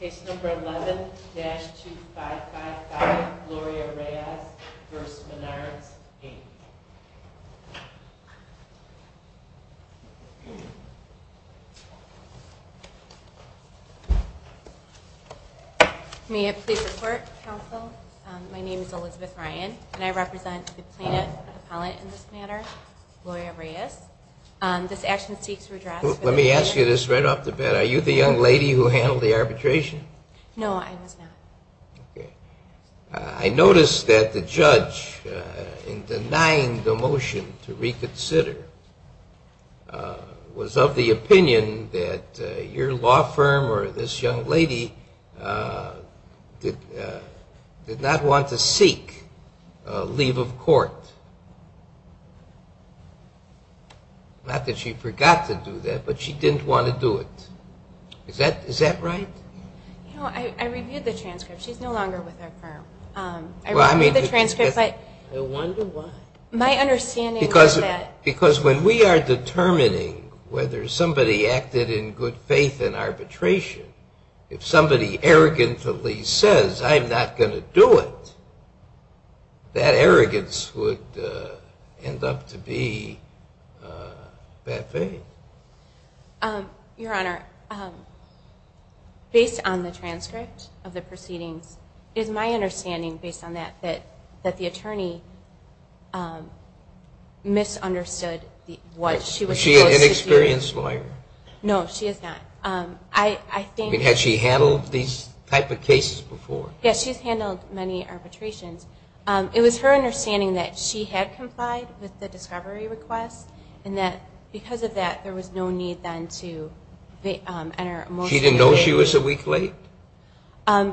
Case number 11-2555, Gloria Reyes v. Menards, Inc. May I please report, counsel? My name is Elizabeth Ryan, and I represent the plaintiff, the appellant in this matter, Gloria Reyes. This action seeks redress. Let me ask you this right off the bat. Are you the young lady who handled the arbitration? No, I was not. Okay. I noticed that the judge, in denying the motion to reconsider, was of the opinion that your law firm or this young lady did not want to seek leave of court. Not that she forgot to do that, but she didn't want to do it. Is that right? You know, I reviewed the transcript. She's no longer with our firm. I reviewed the transcript. I wonder why. Because when we are determining whether somebody acted in good faith in arbitration, if somebody arrogantly says, I'm not going to do it, that arrogance would end up to be bad faith. Your Honor, based on the transcript of the proceedings, it is my understanding, based on that, that the attorney misunderstood what she was supposed to do. Was she an inexperienced lawyer? No, she is not. I think... I mean, had she handled these type of cases before? Yes, she's handled many arbitrations. It was her understanding that she had complied with the discovery request, and that because of that, there was no need then to enter a motion. She didn't know she was a week late?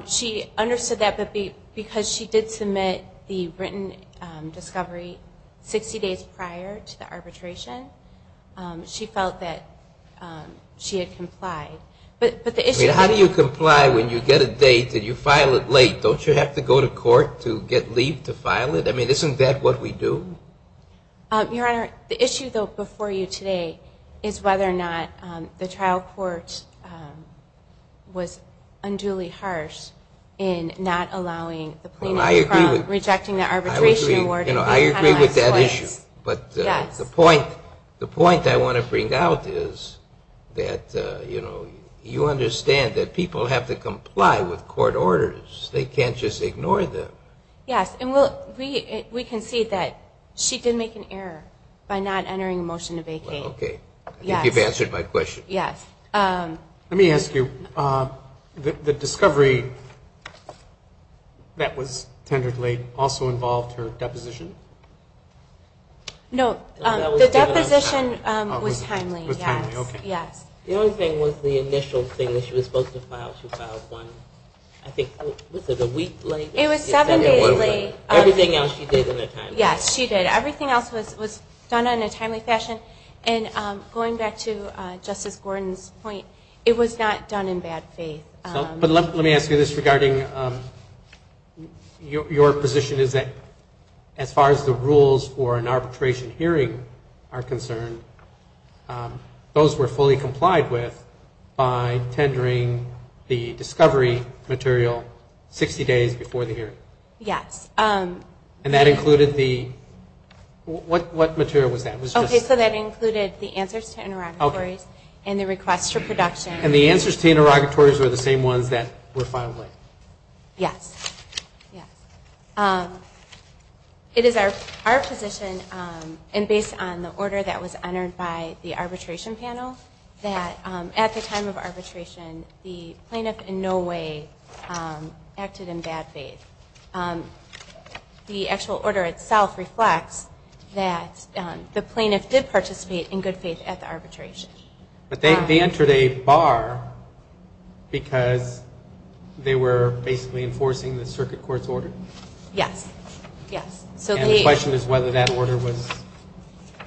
She understood that, but because she did submit the written discovery 60 days prior to the arbitration, she felt that she had complied. But the issue... How do you comply when you get a date and you file it late? Don't you have to go to court to get leave to file it? I mean, isn't that what we do? Your Honor, the issue, though, before you today is whether or not the trial court was unduly harsh in not allowing the plaintiff from rejecting the arbitration award. I agree with that issue, but the point I want to bring out is that you understand that people have to comply with court orders. They can't just ignore them. Yes, and we can see that she did make an error by not entering a motion to vacate. Okay, I think you've answered my question. Yes. Let me ask you, the discovery that was tendered late also involved her deposition? No, the deposition was timely, yes. The only thing was the initial thing that she was supposed to file. She filed one, I think, was it a week late? It was seven days late. Everything else she did in a timely fashion. Yes, she did. Everything else was done in a timely fashion. And going back to Justice Gordon's point, it was not done in bad faith. But let me ask you this regarding your position is that as far as the rules for an arbitration hearing are concerned, those were fully Yes. And that included the, what material was that? Okay, so that included the answers to interrogatories and the requests for production. And the answers to interrogatories were the same ones that were filed late? Yes. It is our position, and based on the order that was entered by the arbitration panel, that at the time of arbitration, the plaintiff in no way acted in bad faith. The actual order itself reflects that the plaintiff did participate in good faith at the arbitration. But they entered a bar because they were basically enforcing the circuit court's order? Yes. Yes. And the question is whether that order was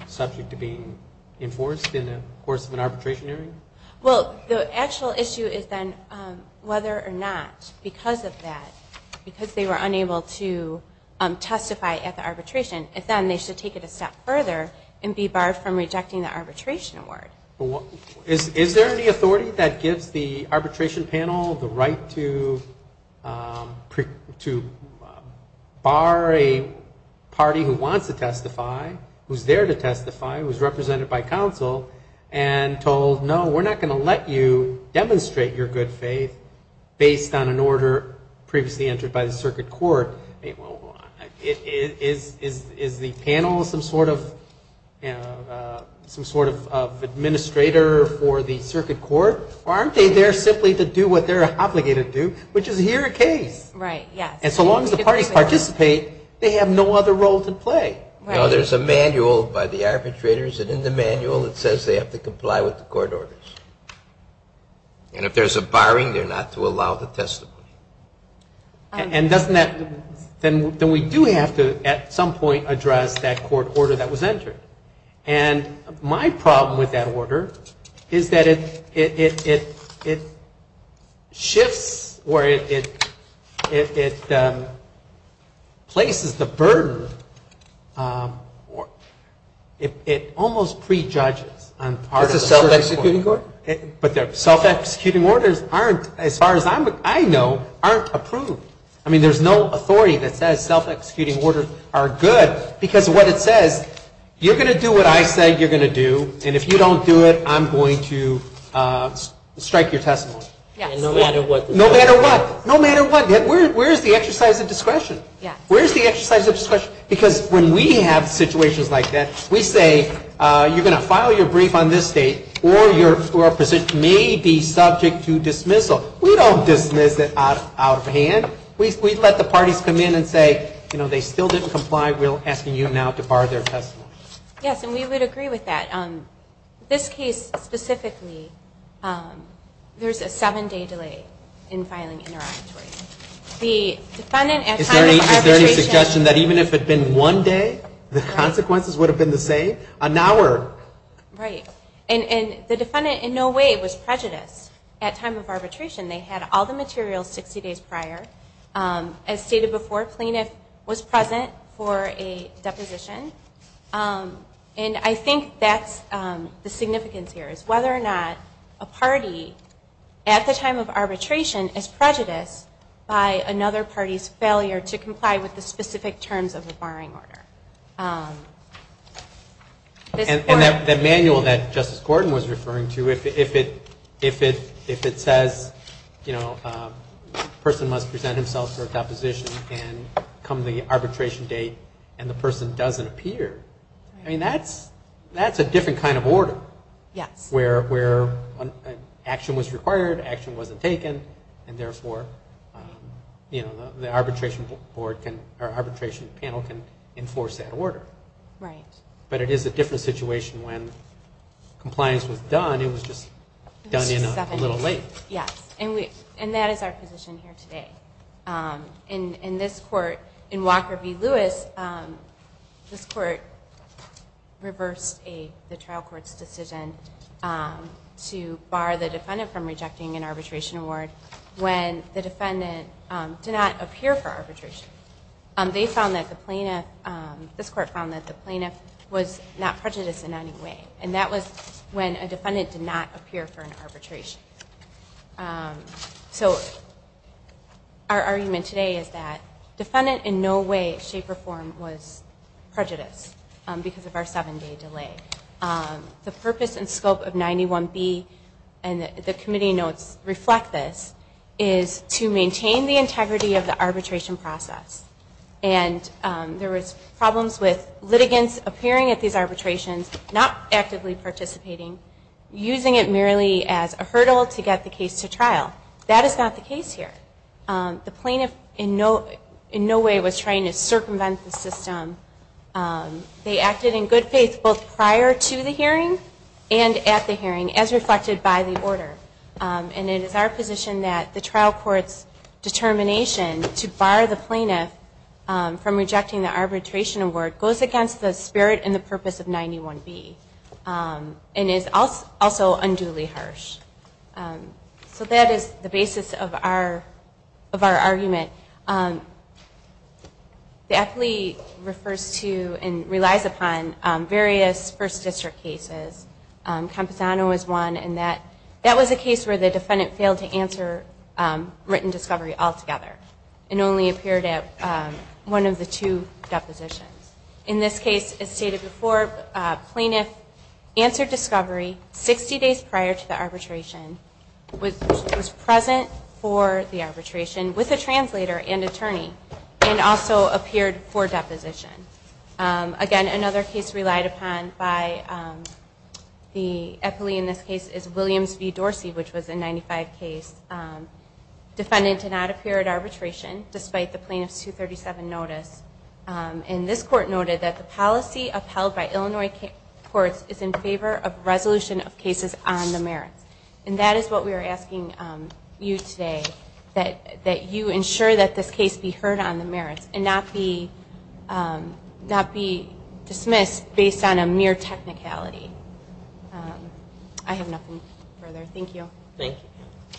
subject to being enforced in the course of an arbitration hearing? Well, the actual issue is then whether or not because of that, because they were unable to testify at the arbitration, if then they should take it a step further and be barred from rejecting the arbitration award. Is there any authority that gives the arbitration panel the right to bar a party who wants to testify, who's there to testify, who's represented by counsel, and told, no, we're not going to let you demonstrate your good faith based on an order previously entered by the circuit court? Is the panel some sort of administrator for the circuit court? Or aren't they there simply to do what they're obligated to do, which is hear a case? Right. Yes. And so long as the parties participate, they have no other role to play. No, there's a manual by the arbitrators, and in the manual it says they have to comply with the court orders. And if there's a barring, they're not to allow the testimony. And doesn't that, then we do have to at some point address that court order that was entered. And my problem with that order is that it shifts or it places the burden, it almost prejudges on part of the circuit court. It's a self-executing order? But self-executing orders aren't, as far as I know, aren't approved. I mean, there's no authority that says self-executing orders are good, because what it says, you're going to do what I say you're going to do, and if you don't do it, I'm going to strike your testimony. No matter what. No matter what. No matter what. Where is the exercise of discretion? Because when we have situations like that, we say you're going to file your brief on this date, or your position may be subject to dismissal. We don't dismiss it out of hand. We let the parties come in and say, you know, they still didn't comply, we're asking you now to bar their testimony. Yes, and we would agree with that. This case specifically, there's a seven-day delay in filing interrogatory. Is there any suggestion that even if it had been one day, the consequences would have been the same? An hour? Right. And the defendant in no way was prejudiced at time of arbitration. They had all the materials 60 days prior. As stated before, a plaintiff was present for a deposition. And I think that's the significance here, is whether or not a party, at the time of arbitration, is prejudiced by another party's failure to comply with the specific terms of the barring order. And that manual that Justice Gordon was referring to, if it says, you know, a person must present himself for a deposition, and come the arbitration date, and the person doesn't appear, I mean, that's a different kind of order. Yes. Where action was required, action wasn't taken, and therefore, you know, the arbitration panel can enforce that order. Right. But it is a different situation when compliance was done, it was just done in a little late. Yes. And that is our position here today. In this court, in Walker v. Lewis, this court reversed the trial court's decision to bar the defendant from rejecting an arbitration award when the defendant did not appear for arbitration. They found that the plaintiff, this court found that the plaintiff was not prejudiced in any way. And that was when a defendant did not appear for an arbitration. So our argument today is that defendant in no way, shape, or form was prejudiced because of our seven-day delay. The purpose and scope of 91B, and the committee notes reflect this, is to maintain the integrity of the arbitration process. And there was problems with litigants appearing at these arbitrations, not actively participating, using it merely as a hurdle to get the case to trial. That is not the case here. The plaintiff in no way was trying to circumvent the system. They acted in good faith both prior to the hearing and at the hearing, as reflected by the order. And it is our position that the trial court's determination to bar the plaintiff from rejecting the arbitration award goes against the spirit and the purpose of 91B, and is also unduly harsh. So that is the basis of our argument. The appellee refers to and relies upon various first district cases. Campesano is one, and that was a case where the defendant failed to answer written discovery altogether, and only appeared at one of the two depositions. In this case, as stated before, the plaintiff answered discovery 60 days prior to the arbitration, was present for the arbitration with a translator and attorney, and also appeared for deposition. Again, another case relied upon by the appellee in this case is Williams v. Dorsey, which was a 95 case. The defendant did not appear at arbitration, despite the plaintiff's 237 notice. And this court noted that the policy upheld by Illinois courts is in favor of resolution of cases on the merits. And that is what we are asking you today, that you ensure that this case be heard on the merits and not be dismissed based on a mere technicality. I have nothing further. Thank you. Thank you.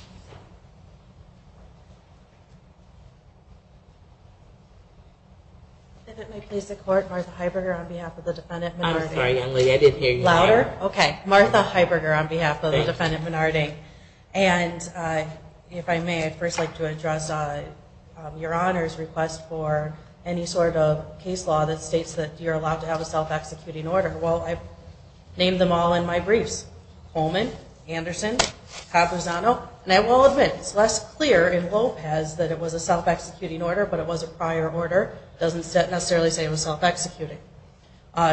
If it may please the court, Martha Heiberger on behalf of the defendant Menarding. I'm sorry, young lady, I did hear you. Louder? Okay. Martha Heiberger on behalf of the defendant Menarding. And if I may, I'd first like to address your Honor's request for any sort of case law that states that you're allowed to have a self-executing order. Well, I named them all in my briefs. Holman, Anderson, Caprizzano. And I will admit, it's less clear in Lopez that it was a self-executing order, but it was a prior order. It doesn't necessarily say it was self-executing.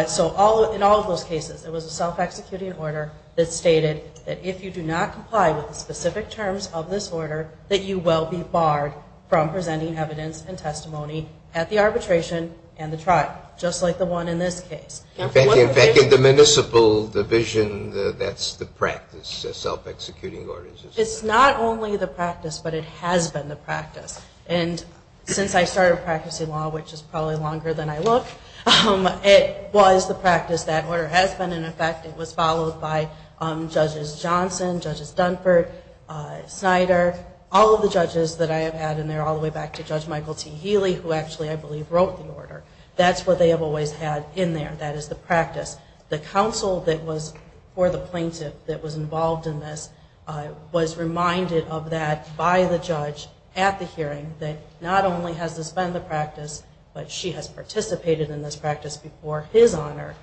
So in all of those cases, it was a self-executing order that stated that if you do not comply with the specific terms of this order, that you will be barred from presenting evidence and testimony at the arbitration and the trial, just like the one in this case. In fact, in the municipal division, that's the practice, self-executing orders. It's not only the practice, but it has been the practice. And since I started practicing law, which is probably longer than I look, it was the practice. That order has been in effect. It was followed by Judges Johnson, Judges Dunford, Snyder, all of the judges that I have had in there, all the way back to Judge Michael T. Healy, who actually, I believe, wrote the order. That's what they have always had in there. That is the practice. The counsel that was for the plaintiff that was involved in this was reminded of that by the judge at the hearing, that not only has this been the practice, but she has participated in this practice before his honor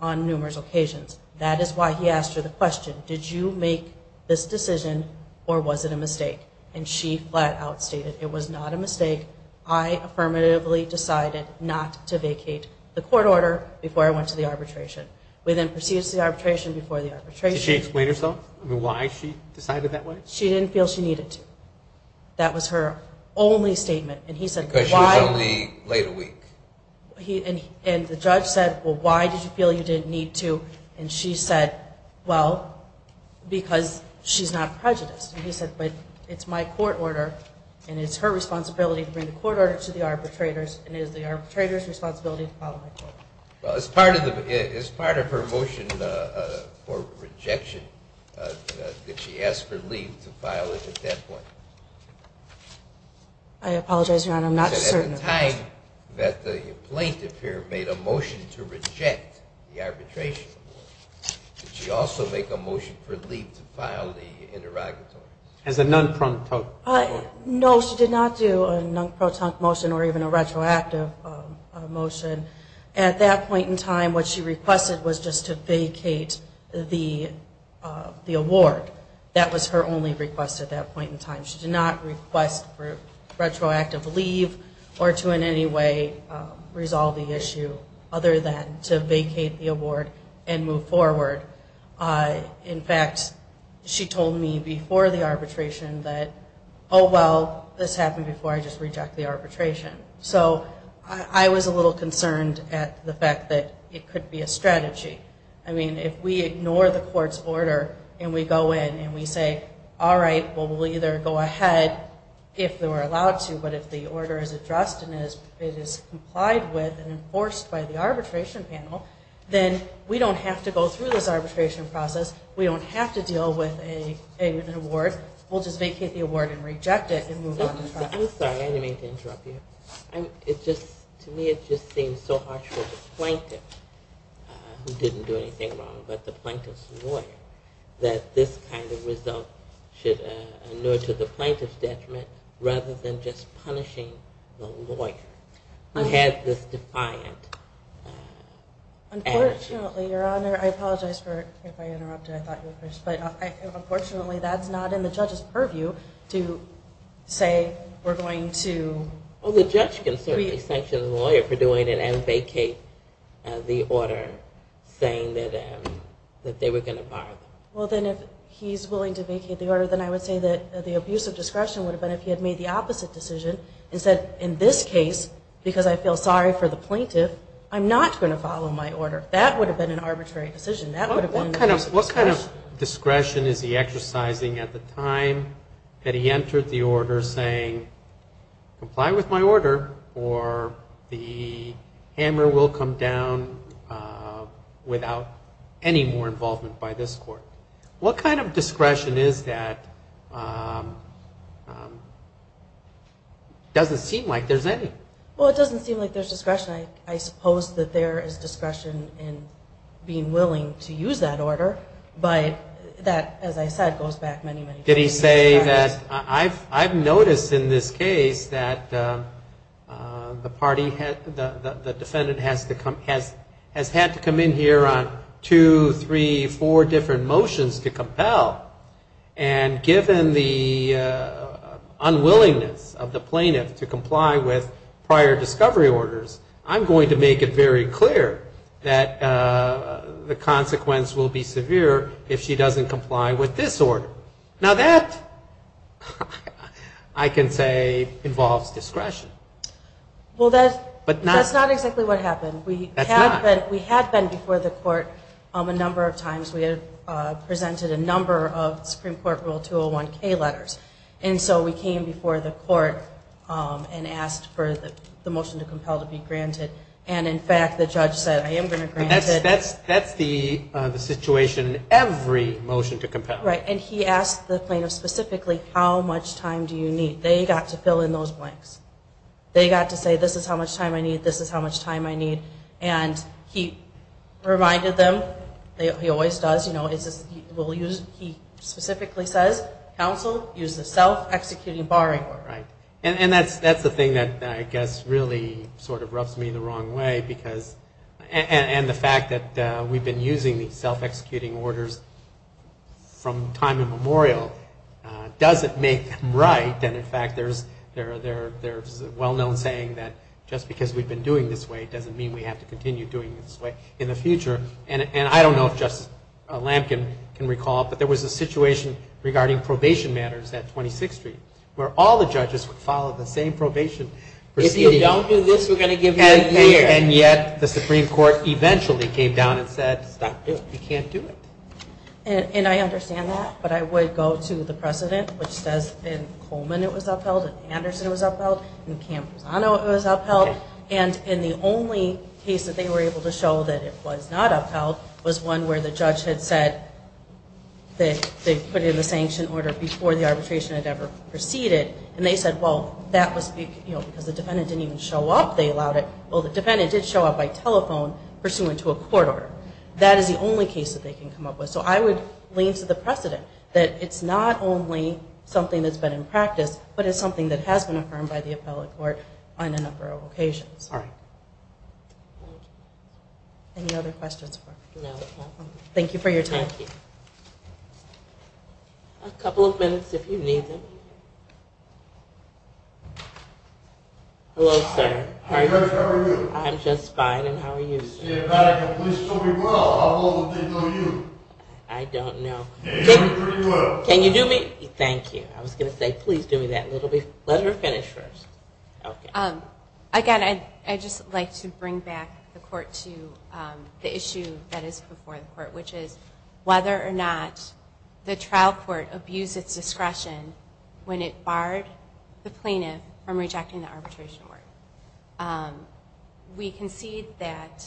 on numerous occasions. That is why he asked her the question, did you make this decision or was it a mistake? And she flat out stated, it was not a mistake. I affirmatively decided not to vacate the court order before I went to the arbitration. We then proceeded to the arbitration before the arbitration. Did she explain herself? I mean, why she decided that way? She didn't feel she needed to. That was her only statement. Because she was only late a week. And the judge said, well, why did you feel you didn't need to? And she said, well, because she's not prejudiced. And he said, but it's my court order and it's her responsibility to bring the court order to the arbitrators and it is the arbitrators' responsibility to follow that order. As part of her motion for rejection, did she ask for leave to file it at that point? I apologize, Your Honor, I'm not certain. At the time that the plaintiff here made a motion to reject the arbitration, did she also make a motion for leave to file the interrogatory? As a non-protonc motion. No, she did not do a non-protonc motion or even a retroactive motion. At that point in time, what she requested was just to vacate the award. That was her only request at that point in time. She did not request for retroactive leave or to in any way resolve the issue other than to vacate the award and move forward. In fact, she told me before the arbitration that, oh, well, this happened before I just rejected the arbitration. So I was a little concerned at the fact that it could be a strategy. I mean, if we ignore the court's order and we go in and we say, all right, well, we'll either go ahead if we're allowed to, but if the order is addressed and it is complied with and enforced by the arbitration panel, then we don't have to go through this arbitration process. We don't have to deal with an award. We'll just vacate the award and reject it and move on to trial. I'm sorry, I didn't mean to interrupt you. To me, it just seems so harsh for the plaintiff, who didn't do anything wrong, but the plaintiff's lawyer, that this kind of result should inure to the plaintiff's detriment rather than just punishing the lawyer who had this defiant attitude. Unfortunately, Your Honor, I apologize if I interrupted. But unfortunately, that's not in the judge's purview to say we're going to- Well, the judge can certainly sanction the lawyer for doing it and vacate the order saying that they were going to fire them. Well, then if he's willing to vacate the order, then I would say that the abuse of discretion would have been if he had made the opposite decision and said, in this case, because I feel sorry for the plaintiff, I'm not going to follow my order. That would have been an arbitrary decision. What kind of discretion is he exercising at the time that he entered the order saying, comply with my order or the hammer will come down without any more involvement by this court? What kind of discretion is that? It doesn't seem like there's any. Well, it doesn't seem like there's discretion. I suppose that there is discretion in being willing to use that order. But that, as I said, goes back many, many- Did he say that- I've noticed in this case that the defendant has had to come in here on two, three, four different motions to compel. And given the unwillingness of the plaintiff to comply with prior discovery orders, I'm going to make it very clear that the consequence will be severe if she doesn't comply with this order. Now, that, I can say, involves discretion. Well, that's not exactly what happened. That's not. We had been before the court a number of times. We had presented a number of Supreme Court Rule 201-K letters. And so we came before the court and asked for the motion to compel to be granted. And, in fact, the judge said, I am going to grant it. That's the situation in every motion to compel. Right. And he asked the plaintiff specifically, how much time do you need? They got to fill in those blanks. They got to say, this is how much time I need, this is how much time I need. And he reminded them, he always does, you know, he specifically says, counsel, use the self-executing barring order. Right. And that's the thing that, I guess, really sort of rubs me the wrong way. And the fact that we've been using these self-executing orders from time immemorial doesn't make them right. And, in fact, there's a well-known saying that just because we've been doing this way doesn't mean we have to continue doing this way in the future. And I don't know if Justice Lampkin can recall, but there was a situation regarding probation matters at 26th Street, where all the judges would follow the same probation procedure. If you don't do this, we're going to give you a year. And yet the Supreme Court eventually came down and said, stop, you can't do it. And I understand that, but I would go to the precedent, which says in Coleman it was upheld, in Anderson it was upheld, in Camposano it was upheld. And the only case that they were able to show that it was not upheld was one where the judge had said that they put in the sanction order before the arbitration had ever proceeded. And they said, well, that was because the defendant didn't even show up, they allowed it. Well, the defendant did show up by telephone pursuant to a court order. That is the only case that they can come up with. So I would lean to the precedent that it's not only something that's been in practice, but it's something that has been affirmed by the appellate court on a number of occasions. All right. Any other questions? No. Thank you for your time. Thank you. A couple of minutes if you need them. Hello, sir. How are you? I'm just fine. And how are you, sir? Please do me well. How old do you think you are? I don't know. You look pretty well. Can you do me? Thank you. I was going to say, please do me that little bit. Let her finish first. Okay. Again, I'd just like to bring back the court to the issue that is before the court, which is whether or not the trial court abused its discretion when it barred the plaintiff from rejecting the arbitration order. We concede that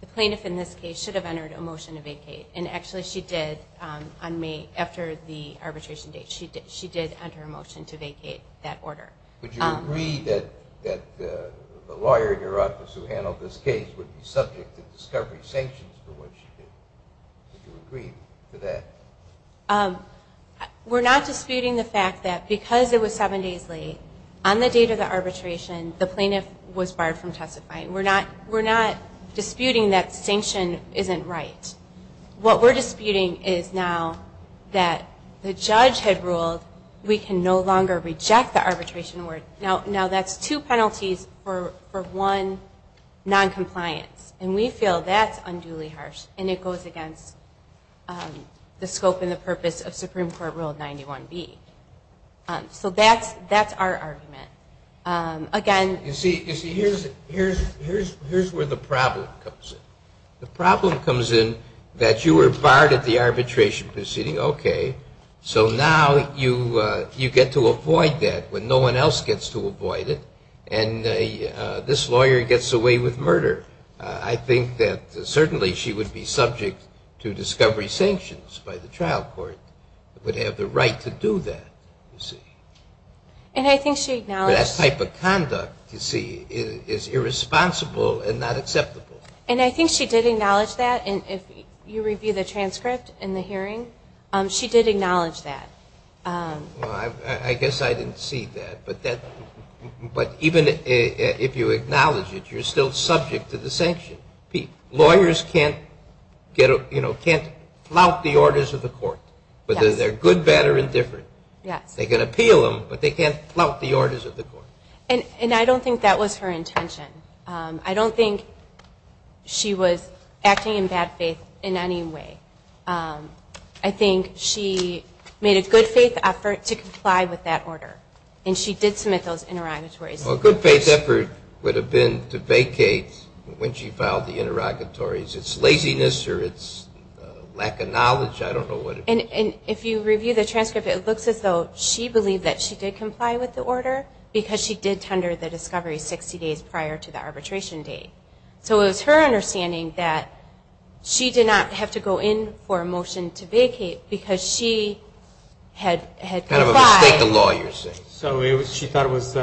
the plaintiff in this case should have entered a motion to vacate, and actually she did on May after the arbitration date. She did enter a motion to vacate that order. Would you agree that the lawyer in your office who handled this case would be subject to discovery sanctions for what she did? Would you agree to that? We're not disputing the fact that because it was seven days late, on the date of the arbitration the plaintiff was barred from testifying. We're not disputing that sanction isn't right. What we're disputing is now that the judge had ruled we can no longer reject the arbitration order. Now, that's two penalties for one, noncompliance, and we feel that's unduly harsh, and it goes against the scope and the purpose of Supreme Court Rule 91B. So that's our argument. Again, You see, here's where the problem comes in. The problem comes in that you were barred at the arbitration proceeding. Okay, so now you get to avoid that when no one else gets to avoid it, and this lawyer gets away with murder. I think that certainly she would be subject to discovery sanctions by the trial court, would have the right to do that. And I think she acknowledged That type of conduct, you see, is irresponsible and not acceptable. And I think she did acknowledge that, and if you review the transcript in the hearing, she did acknowledge that. I guess I didn't see that, but even if you acknowledge it, you're still subject to the sanction. Lawyers can't flout the orders of the court, whether they're good, bad, or indifferent. They can appeal them, but they can't flout the orders of the court. And I don't think that was her intention. I don't think she was acting in bad faith in any way. I think she made a good faith effort to comply with that order, and she did submit those interrogatories. Well, a good faith effort would have been to vacate when she filed the interrogatories. It's laziness or it's lack of knowledge. I don't know what it is. And if you review the transcript, it looks as though she believed that she did comply with the order because she did tender the discovery 60 days prior to the arbitration date. So it was her understanding that she did not have to go in for a motion to vacate because she had complied. Kind of a mistake of law, you're saying. So she thought it was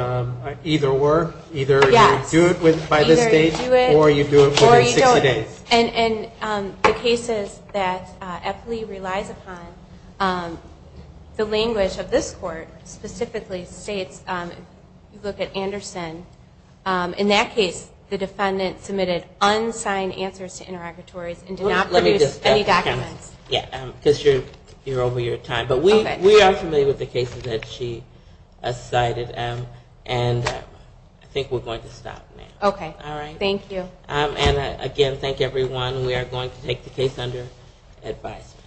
either-or, either you do it by this date or you do it within 60 days. And the cases that Epley relies upon, the language of this court specifically states, if you look at Anderson, in that case the defendant submitted unsigned answers to interrogatories and did not produce any documents. Because you're over your time. But we are familiar with the cases that she cited, and I think we're going to stop now. Okay, thank you. And, again, thank you, everyone. We are going to take the case under advisement.